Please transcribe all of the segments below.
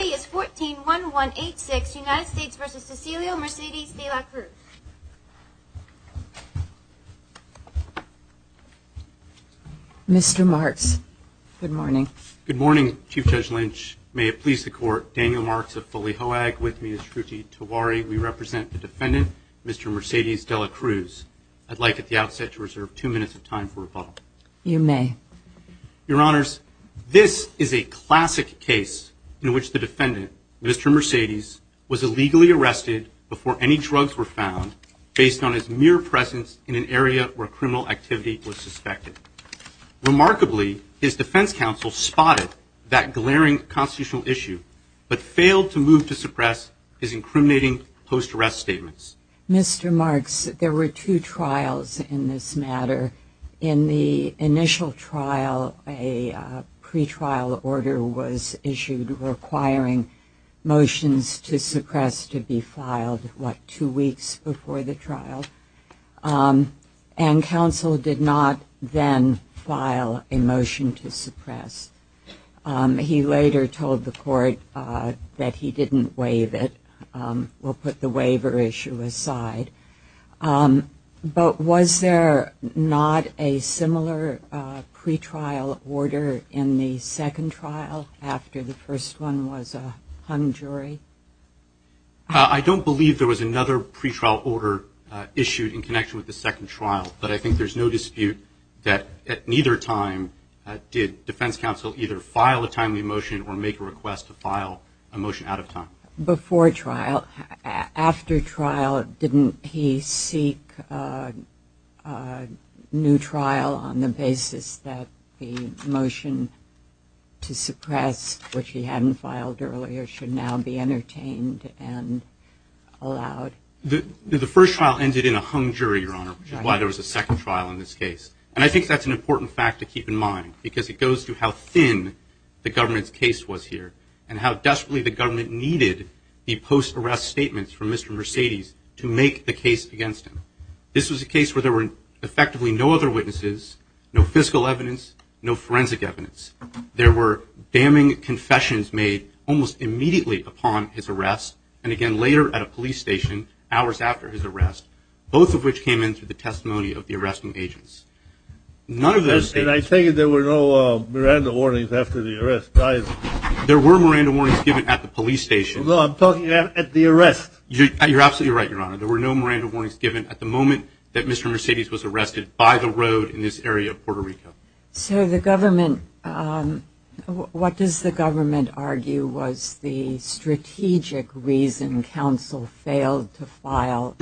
is 14-1-1-8-6 United States v. Cecilio Mercedes-De la Cruz Mr. Marks, good morning. Good morning, Chief Judge Lynch. May it please the court, Daniel Marks of Foley HOAG with me is Truti Tiwari. We represent the defendant, Mr. Mercedes-De la Cruz. I'd like at the outset to reserve two minutes of time for rebuttal. You may. Your Honors, this is a classic case in which the defendant, Mr. Mercedes, was illegally arrested before any drugs were found based on his mere presence in an area where criminal activity was suspected. Remarkably, his defense counsel spotted that glaring constitutional issue but failed to move to suppress his incriminating post arrest statements. Mr. Marks, there were two trials in this matter. In the initial trial, a pretrial order was issued requiring motions to suppress to be filed, what, two weeks before the trial? And counsel did not then file a motion to suppress. He later told the court that he didn't waive it. We'll put the waiver issue aside. But was there not a similar pretrial order in the second trial after the first one was a hung jury? I don't believe there was another pretrial order issued in connection with the second trial, but I think there's no dispute that at neither time did defense counsel either file a timely motion or make a request to file a motion out of time. Before trial, after trial, didn't he seek a new trial on the basis that the motion to suppress, which he hadn't filed earlier, should now be entertained and allowed? The first trial ended in a hung jury, Your Honor, which is why there was a second trial in this case. And I think that's an important fact to keep in mind because it goes to how thin the government's case was here and how desperately the government needed the post-arrest statements from Mr. Mercedes to make the case against him. This was a case where there were effectively no other witnesses, no fiscal evidence, no forensic evidence. There were damning confessions made almost immediately upon his arrest and again later at a police station, hours after his arrest, both of which came in through the testimony of the arresting agents. None of those And I take it there were no Miranda warnings after the arrest. There were Miranda warnings given at the police station. No, I'm talking at the arrest. You're absolutely right, Your Honor. There were no Miranda warnings given at the moment that Mr. Mercedes was arrested by the road in this area of Puerto Rico. So the government, what does the government argue was the strategic reason counsel failed to file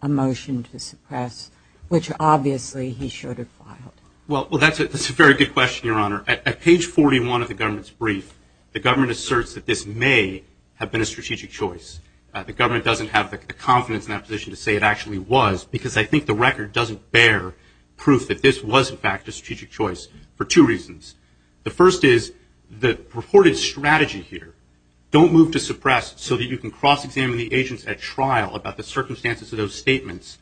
a motion to suppress, which obviously he should have filed? Well, that's a very good question, Your Honor. At page 41 of the government's brief, the government asserts that this may have been a strategic choice. The government doesn't have the confidence in that position to say it actually was because I think the record doesn't bear proof that this was in fact a strategic choice for two reasons. The first is the purported strategy here, don't move to suppress so that you can cross-examine the agents at trial about the circumstances of those statements,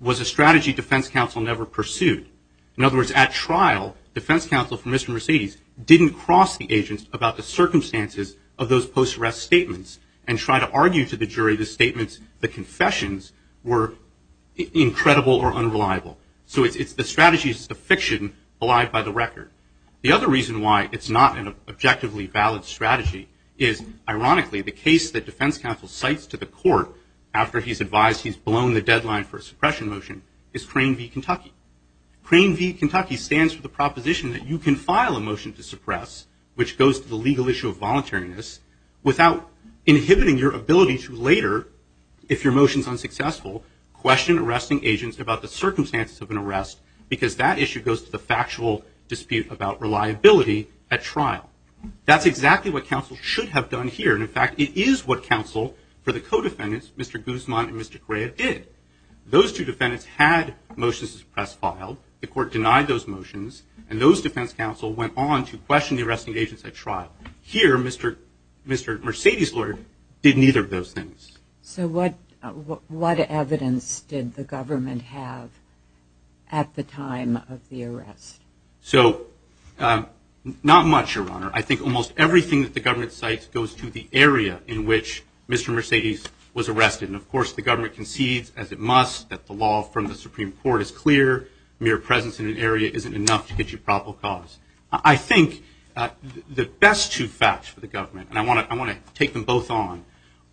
was a strategy defense counsel never pursued. In other words, at trial, defense counsel for Mr. Mercedes didn't cross the agents about the circumstances of those post-arrest statements and try to argue to the jury the statements, the confessions were incredible or unreliable. So it's the strategy, it's the fiction alive by the record. The other reason why it's not an objectively valid strategy is, ironically, the case that defense counsel cites to the court after he's advised he's blown the deadline for a suppression motion is Crane v. Kentucky. Crane v. Kentucky stands for the proposition that you can file a motion to suppress, which goes to the legal issue of voluntariness, without inhibiting your ability to later, if your motion's unsuccessful, question arresting agents about the circumstances of an arrest because that issue goes to the factual dispute about reliability at trial. That's exactly what counsel should have done here and in fact it is what Mr. Guzman and Mr. Correa did. Those two defendants had motions to suppress filed, the court denied those motions and those defense counsel went on to question the arresting agents at trial. Here, Mr. Mercedes Lord did neither of those things. So what evidence did the government have at the time of the arrest? So not much, Your Honor. I think almost everything that the government cites goes to the area in which Mr. Mercedes was arrested and of course the government concedes, as it must, that the law from the Supreme Court is clear. Mere presence in an area isn't enough to get you probable cause. I think the best two facts for the government, and I want to take them both on,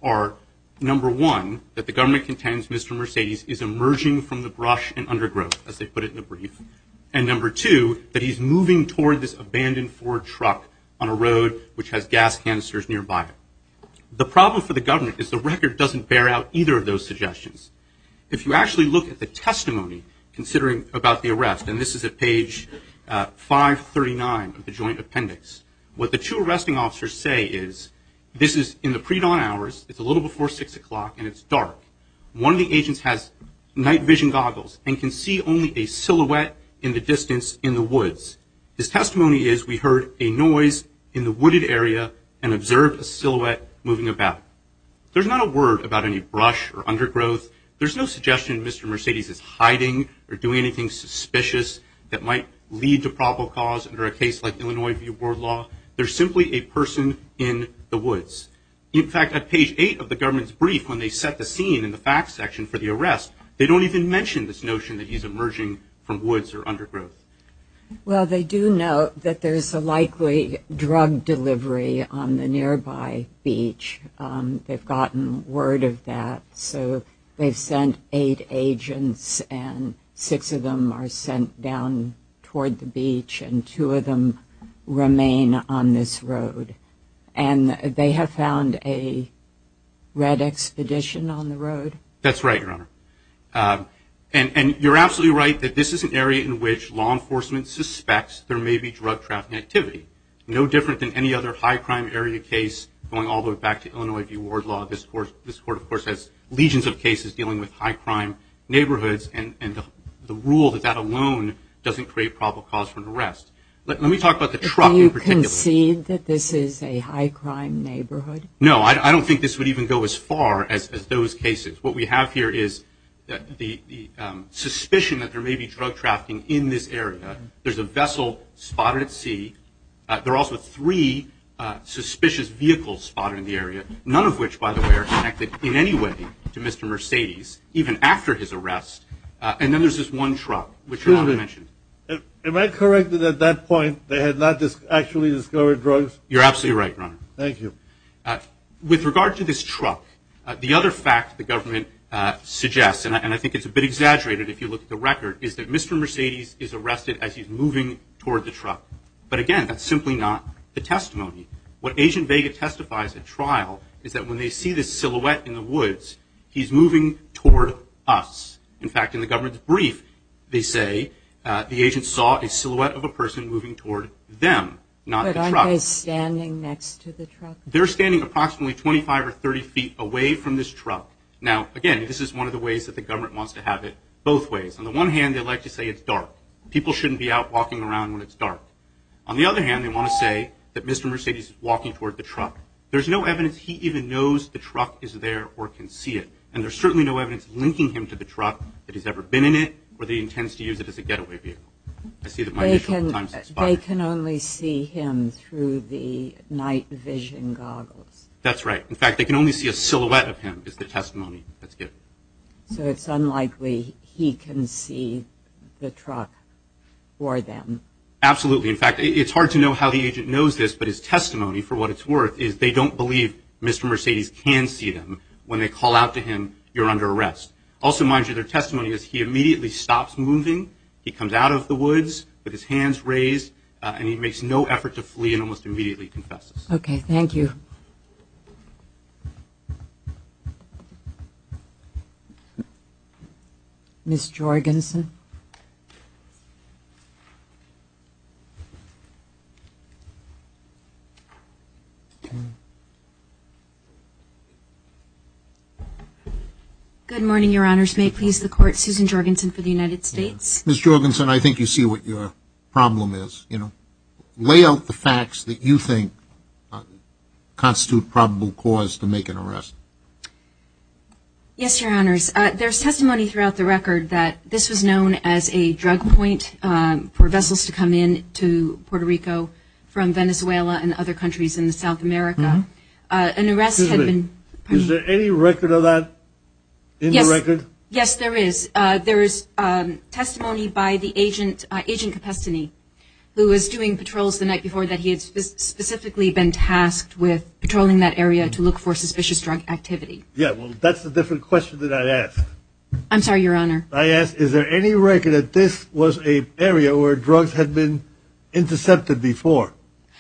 are number one, that the government contends Mr. Mercedes is emerging from the brush and undergrowth, as they put it in the brief, and number two, that he's moving toward this abandoned Ford truck on a road which has canisters nearby it. The problem for the government is the record doesn't bear out either of those suggestions. If you actually look at the testimony, considering about the arrest, and this is at page 539 of the joint appendix, what the two arresting officers say is, this is in the pre-dawn hours, it's a little before six o'clock and it's dark. One of the agents has night vision goggles and can see only a silhouette in the distance in the woods. His testimony is we heard a noise in the wooded area and observed a silhouette moving about. There's not a word about any brush or undergrowth. There's no suggestion Mr. Mercedes is hiding or doing anything suspicious that might lead to probable cause under a case like Illinois View Board Law. There's simply a person in the woods. In fact, at page 8 of the government's brief, when they set the scene in the facts section for the arrest, they don't even mention this notion that he's emerging from woods or undergrowth. Well, they do note that there's a likely drug delivery on the nearby beach. They've gotten word of that. So they've sent eight agents and six of them are sent down toward the beach and two of them remain on this road. And they have found a red expedition on the road? That's right, Your Honor. And you're absolutely right that this is an area in which law enforcement suspects there may be drug trafficking activity. No different than any other high crime area case going all the way back to Illinois View Ward Law. This Court, of course, has legions of cases dealing with high crime neighborhoods and the rule that that alone doesn't create probable cause for an arrest. Let me talk about the truck in particular. Do you concede that this is a high crime neighborhood? No, I don't think this would even go as far as those cases. What we this area, there's a vessel spotted at sea. There are also three suspicious vehicles spotted in the area, none of which, by the way, are connected in any way to Mr. Mercedes, even after his arrest. And then there's this one truck, which Your Honor mentioned. Am I correct that at that point they had not actually discovered drugs? You're absolutely right, Your Honor. Thank you. With regard to this truck, the other fact the government suggests, and I think it's a bit of an understatement, is that the agent is arrested as he's moving toward the truck. But again, that's simply not the testimony. What Agent Vega testifies at trial is that when they see this silhouette in the woods, he's moving toward us. In fact, in the government's brief, they say the agent saw a silhouette of a person moving toward them, not the truck. But aren't they standing next to the truck? They're standing approximately 25 or 30 feet away from this truck. Now, again, this is one of the ways that the government wants to have it both ways. On the one hand, they like to say it's dark. People shouldn't be out walking around when it's dark. On the other hand, they want to say that Mr. Mercedes is walking toward the truck. There's no evidence he even knows the truck is there or can see it. And there's certainly no evidence linking him to the truck that he's ever been in it or that he intends to use it as a getaway vehicle. I see that my initial time is expired. They can only see him through the night vision goggles. That's right. In fact, they can only see a silhouette of him is the testimony that's given. So it's unlikely he can see the truck for them. Absolutely. In fact, it's hard to know how the agent knows this, but his testimony, for what it's worth, is they don't believe Mr. Mercedes can see them. When they call out to him, you're under arrest. Also, mind you, their testimony is he immediately stops moving. He comes out of the woods with his hands raised, and he makes no effort to flee and almost immediately confesses. Okay, thank you. Ms. Jorgensen. Good morning, Your Honors. May it please the Court, Susan Jorgensen for the United States. Ms. Jorgensen, I think you see what your problem is. Lay out the facts that you think constitute probable cause to make an arrest. Yes, Your Honors. There's testimony throughout the record that this was known as a drug point for vessels to come in to Puerto Rico from Venezuela and other countries in South America. An arrest had been... Is there any record of that in the record? Yes, there is. There is testimony by the agent, Agent Capestany, who was doing patrols the night before that he had specifically been tasked with patrolling that area to look for suspicious drug activity. Yeah, well, that's a different question than I asked. I'm sorry, Your Honor. I asked, is there any record that this was an area where drugs had been intercepted before?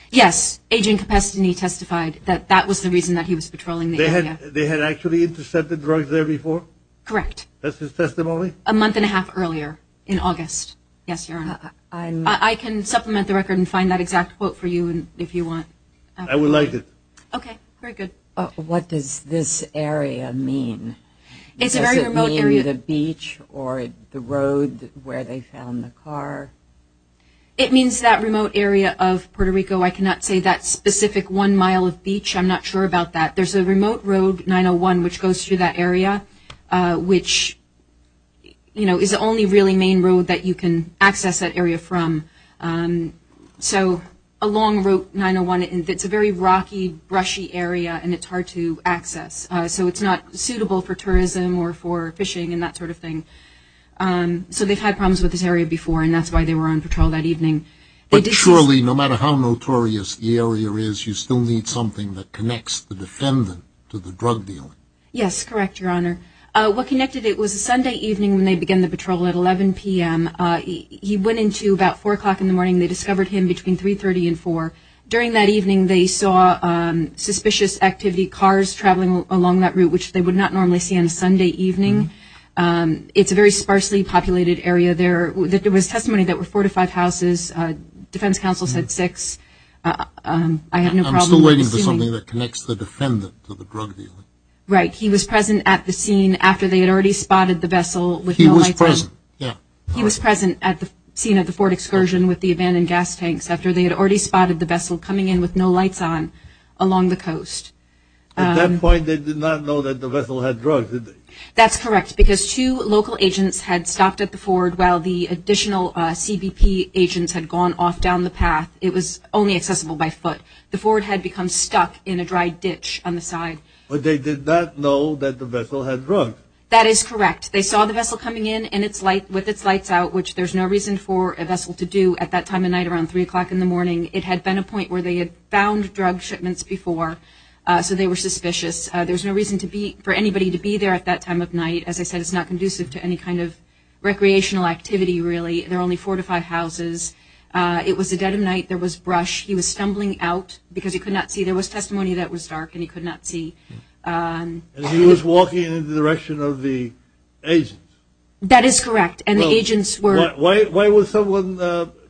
Yes, Agent Capestany testified that that was the reason that he was patrolling the area. They had actually intercepted drugs there before? Correct. That's his testimony? A month and a half earlier, in August. Yes, Your Honor. I can supplement the record and find that exact quote for you if you want. I would like to. Okay, very good. What does this area mean? It's a very remote area. Does it mean the beach or the road where they found the car? It means that remote area of Puerto Rico. I cannot say that specific one mile of beach. I'm not sure about that. There's a remote road, 901, which goes through that area, which, you know, is the only really main road that you can access that area from. So a long road, 901, it's a very rocky, brushy area, and it's hard to access. So it's not suitable for tourism or for fishing and that sort of thing. So they've had problems with this area before, and that's why they were on patrol that evening. But surely, no matter how notorious the area is, you still need something that connects the defendant to the drug dealer. Yes, correct, Your Honor. What connected it was a Sunday evening when they began the patrol at 11 p.m. He went into about 4 o'clock in the morning. They discovered him between 3.30 and 4. During that evening, they saw suspicious activity, cars traveling along that route, which they would not normally see on a Sunday evening. It's a very sparsely populated area there. There was testimony that there were four to five houses. Defense counsel said six. I have no problem assuming. I'm still waiting for something that connects the defendant to the drug dealer. Right. He was present at the scene after they had already spotted the vessel with no lights on. He was present, yeah. He was present at the scene of the Ford excursion with the abandoned gas tanks after they had already spotted the vessel coming in with no lights on along the coast. At that point, they did not know that the vessel had drugs, did they? That's correct, because two local agents had stopped at the Ford while the additional CBP agents had gone off down the path. It was only accessible by foot. The Ford had become stuck in a dry ditch on the side. But they did not know that the vessel had drugs. That is correct. They saw the vessel coming in with its lights out, which there's no reason for a vessel to do at that time of night around 3 o'clock in the morning. It had been a point where they had found drug shipments before, so they were suspicious. There's no reason for anybody to be there at that time of night. As I said, it's not conducive to any kind of recreational activity, really. There are only four to five houses. It was a dead of night. There was brush. He was stumbling out because he could not see. There was testimony that it was dark and he could not see. And he was walking in the direction of the agents. That is correct, and the agents were – Why would someone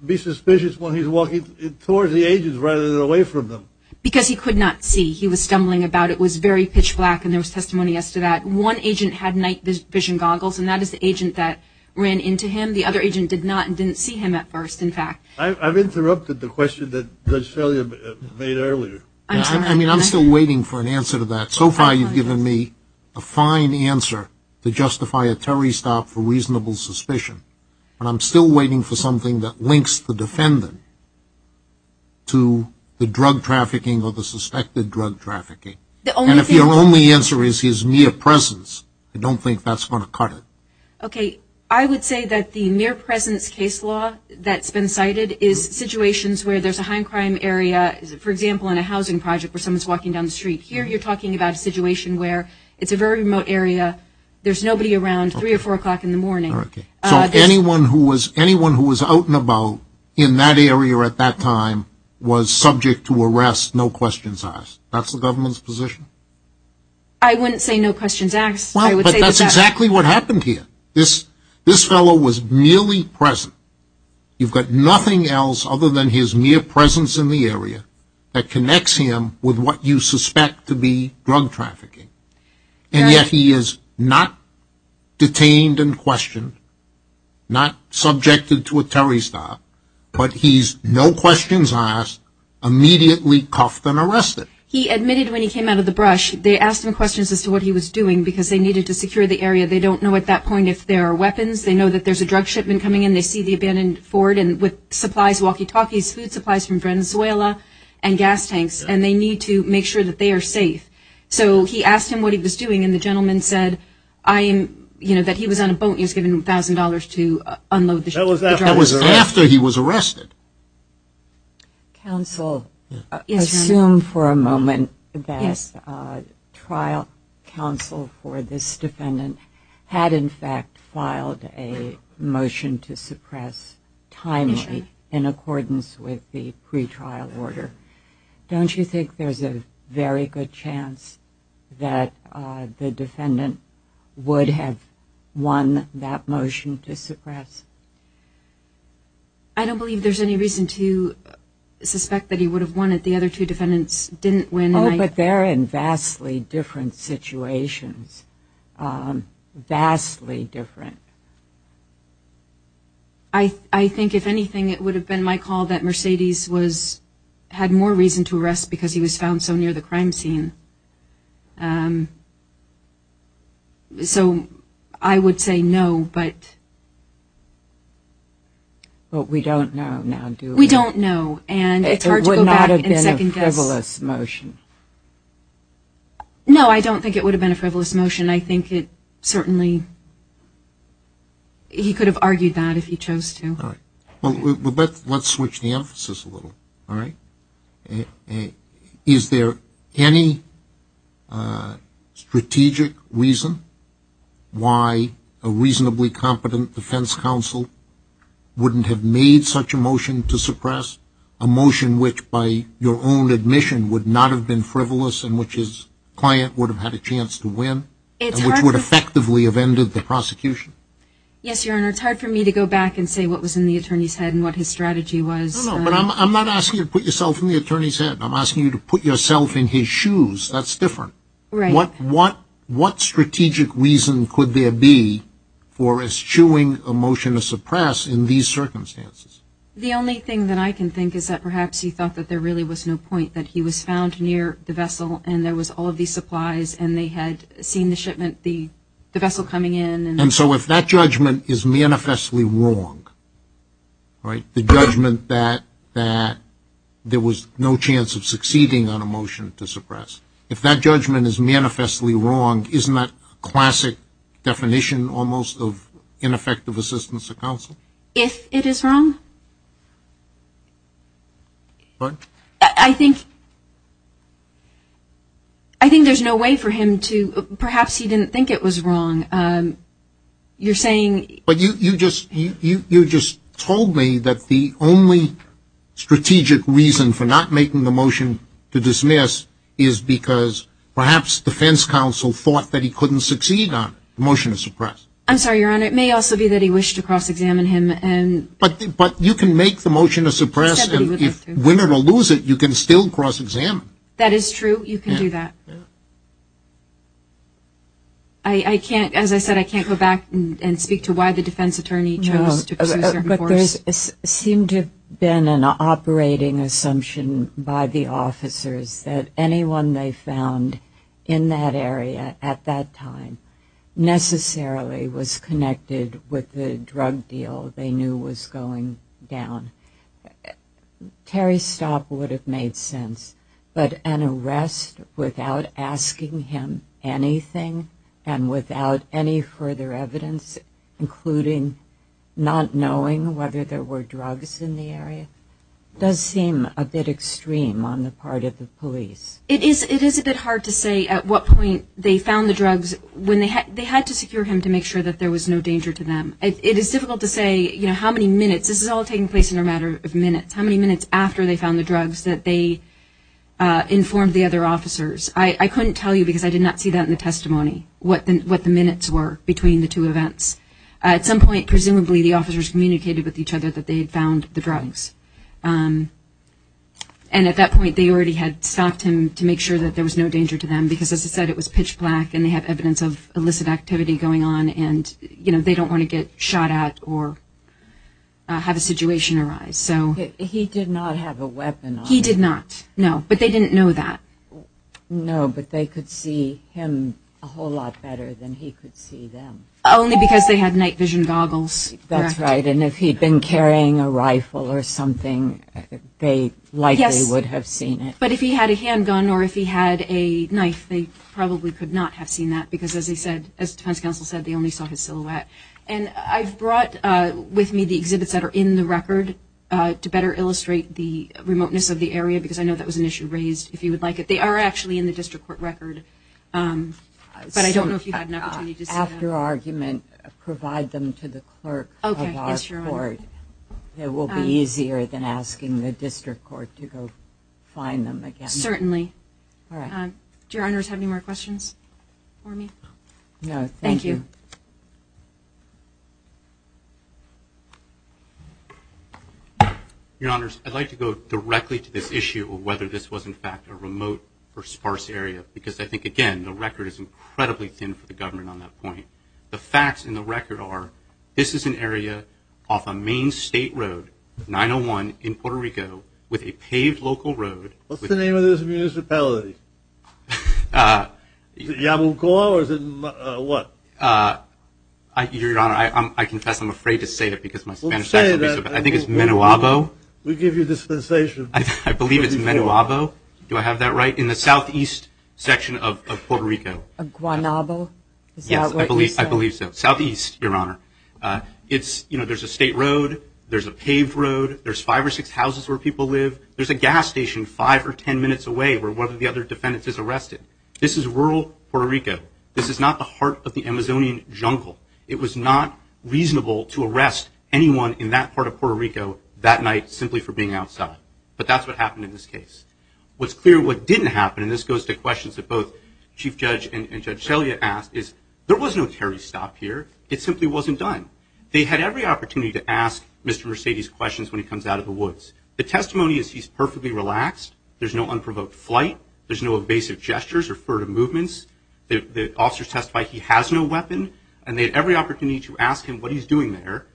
be suspicious when he's walking towards the agents rather than away from them? Because he could not see. He was stumbling about. It was very pitch black, and there was testimony as to that. One agent had night-vision goggles, and that is the agent that ran into him. The other agent did not and didn't see him at first, in fact. I've interrupted the question that Judge Felia made earlier. I mean, I'm still waiting for an answer to that. So far you've given me a fine answer to justify a Terry stop for reasonable suspicion, but I'm still waiting for something that links the defendant to the drug trafficking or the suspected drug trafficking. And if your only answer is his near presence, I don't think that's going to cut it. Okay. I would say that the near presence case law that's been cited is situations where there's a high crime area, for example, in a housing project where someone's walking down the street. Here you're talking about a situation where it's a very remote area. There's nobody around 3 or 4 o'clock in the morning. Okay. So anyone who was out and about in that area at that time was subject to arrest, no questions asked. That's the government's position? I wouldn't say no questions asked. Well, but that's exactly what happened here. This fellow was merely present. You've got nothing else other than his near presence in the area that connects him with what you suspect to be drug trafficking. And yet he is not detained and questioned, not subjected to a Terry stop, but he's no questions asked, immediately cuffed and arrested. He admitted when he came out of the brush, they asked him questions as to what he was doing, because they needed to secure the area. They don't know at that point if there are weapons. They know that there's a drug shipment coming in. They see the abandoned Ford with supplies, walkie-talkies, food supplies from Venezuela and gas tanks, and they need to make sure that they are safe. So he asked him what he was doing, and the gentleman said, you know, that he was on a boat. He was given $1,000 to unload the ship. That was after he was arrested. Counsel, assume for a moment that trial counsel for this defendant had, in fact, filed a motion to suppress timely in accordance with the pretrial order. Don't you think there's a very good chance that the defendant would have won that motion to suppress? I don't believe there's any reason to suspect that he would have won it. The other two defendants didn't win. Oh, but they're in vastly different situations, vastly different. I think, if anything, it would have been my call that Mercedes had more reason to arrest because he was found so near the crime scene. So I would say no, but... But we don't know now, do we? We don't know, and it's hard to go back and second-guess. It would not have been a frivolous motion. No, I don't think it would have been a frivolous motion. I think it certainly he could have argued that if he chose to. All right. Well, let's switch the emphasis a little, all right? Is there any strategic reason why a reasonably competent defense counsel wouldn't have made such a motion to suppress, a motion which, by your own admission, would not have been frivolous and which his client would have had a chance to win and which would effectively have ended the prosecution? Yes, Your Honor. It's hard for me to go back and say what was in the attorney's head and what his strategy was. No, no, but I'm not asking you to put yourself in the attorney's head. I'm asking you to put yourself in his shoes. That's different. Right. What strategic reason could there be for eschewing a motion to suppress in these circumstances? The only thing that I can think is that perhaps he thought that there really was no point, that he was found near the vessel and there was all of these supplies and they had seen the shipment, the vessel coming in. And so if that judgment is manifestly wrong, right, the judgment that there was no chance of succeeding on a motion to suppress, if that judgment is manifestly wrong, isn't that classic definition almost of ineffective assistance to counsel? If it is wrong? What? I think there's no way for him to – perhaps he didn't think it was wrong. You're saying – But you just told me that the only strategic reason for not making the motion to dismiss is because perhaps defense counsel thought that he couldn't succeed on it, the motion to suppress. I'm sorry, Your Honor. But it may also be that he wished to cross-examine him and – But you can make the motion to suppress and if Winner will lose it, you can still cross-examine. That is true. You can do that. As I said, I can't go back and speak to why the defense attorney chose to pursue certain course. But there seemed to have been an operating assumption by the officers that anyone they found in that area at that time necessarily was connected with the drug deal they knew was going down. Terry's stop would have made sense, but an arrest without asking him anything and without any further evidence, including not knowing whether there were drugs in the area, does seem a bit extreme on the part of the police. It is a bit hard to say at what point they found the drugs. They had to secure him to make sure that there was no danger to them. It is difficult to say how many minutes – this is all taking place in a matter of minutes – how many minutes after they found the drugs that they informed the other officers. I couldn't tell you because I did not see that in the testimony, what the minutes were between the two events. At some point, presumably, the officers communicated with each other that they had found the drugs. And at that point, they already had stopped him to make sure that there was no danger to them because, as I said, it was pitch black and they had evidence of illicit activity going on and they don't want to get shot at or have a situation arise. He did not have a weapon on him. He did not, no, but they didn't know that. No, but they could see him a whole lot better than he could see them. Only because they had night vision goggles. That's right, and if he'd been carrying a rifle or something, they likely would have seen it. Yes, but if he had a handgun or if he had a knife, they probably could not have seen that because, as he said, as defense counsel said, they only saw his silhouette. And I've brought with me the exhibits that are in the record to better illustrate the remoteness of the area because I know that was an issue raised, if you would like it. They are actually in the district court record, but I don't know if you had an opportunity to see them. After argument, provide them to the clerk of our court. It will be easier than asking the district court to go find them again. Certainly. Do your honors have any more questions for me? No, thank you. Thank you. Your honors, I'd like to go directly to this issue of whether this was, in fact, a remote or sparse area because I think, again, the record is incredibly thin for the government on that point. The facts in the record are this is an area off a main state road, 901, in Puerto Rico, with a paved local road. What's the name of this municipality? Is it Yamulcoa or is it what? Your honor, I confess I'm afraid to say it because my Spanish is not so good, but I think it's Menwabo. We give you dispensation. I believe it's Menwabo. Do I have that right? In the southeast section of Puerto Rico. Guanabo? Is that what you said? I believe so. Southeast, your honor. There's a state road. There's a paved road. There's five or six houses where people live. There's a gas station five or ten minutes away where one of the other defendants is arrested. This is rural Puerto Rico. This is not the heart of the Amazonian jungle. It was not reasonable to arrest anyone in that part of Puerto Rico that night simply for being outside, but that's what happened in this case. What's clear what didn't happen, and this goes to questions that both Chief Judge and Judge Selya asked, is there was no carry stop here. It simply wasn't done. They had every opportunity to ask Mr. Mercedes questions when he comes out of the woods. The testimony is he's perfectly relaxed. There's no unprovoked flight. There's no evasive gestures or furtive movements. The officers testified he has no weapon, and they had every opportunity to ask him what he's doing there.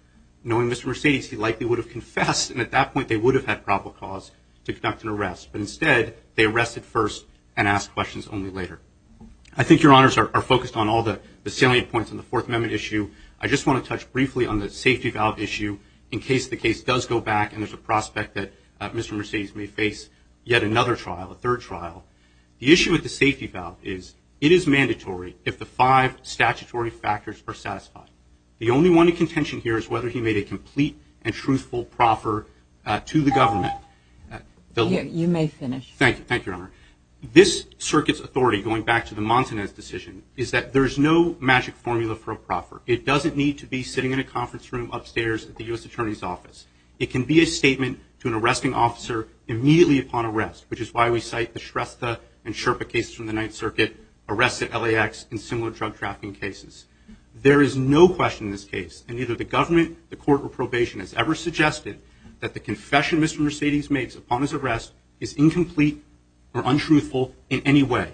Knowing Mr. Mercedes, he likely would have confessed, and at that point they would have had probable cause to conduct an arrest, but instead they arrested first and asked questions only later. I think your honors are focused on all the salient points on the Fourth Amendment issue. I just want to touch briefly on the safety valve issue in case the case does go back and there's a prospect that Mr. Mercedes may face yet another trial, a third trial. The issue with the safety valve is it is mandatory if the five statutory factors are satisfied. The only one to contention here is whether he made a complete and truthful proffer to the government. You may finish. Thank you, Your Honor. This circuit's authority, going back to the Montanez decision, is that there's no magic formula for a proffer. It doesn't need to be sitting in a conference room upstairs at the U.S. Attorney's Office. It can be a statement to an arresting officer immediately upon arrest, which is why we cite the Shrestha and Sherpa cases from the Ninth Circuit, arrests at LAX, and similar drug trafficking cases. There is no question in this case, and neither the government, the court, or probation has ever suggested that the confession Mr. Mercedes makes upon his arrest is incomplete or untruthful in any way.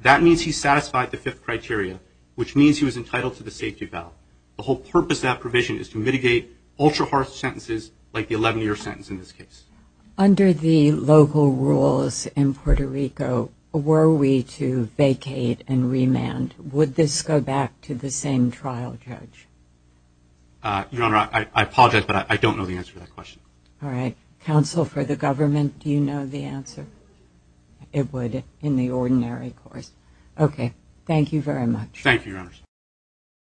That means he satisfied the fifth criteria, which means he was entitled to the safety valve. The whole purpose of that provision is to mitigate ultra-hard sentences like the 11-year sentence in this case. Under the local rules in Puerto Rico, were we to vacate and remand, would this go back to the same trial judge? Your Honor, I apologize, but I don't know the answer to that question. All right. Counsel for the government, do you know the answer? It would in the ordinary course. Thank you very much. Thank you, Your Honor.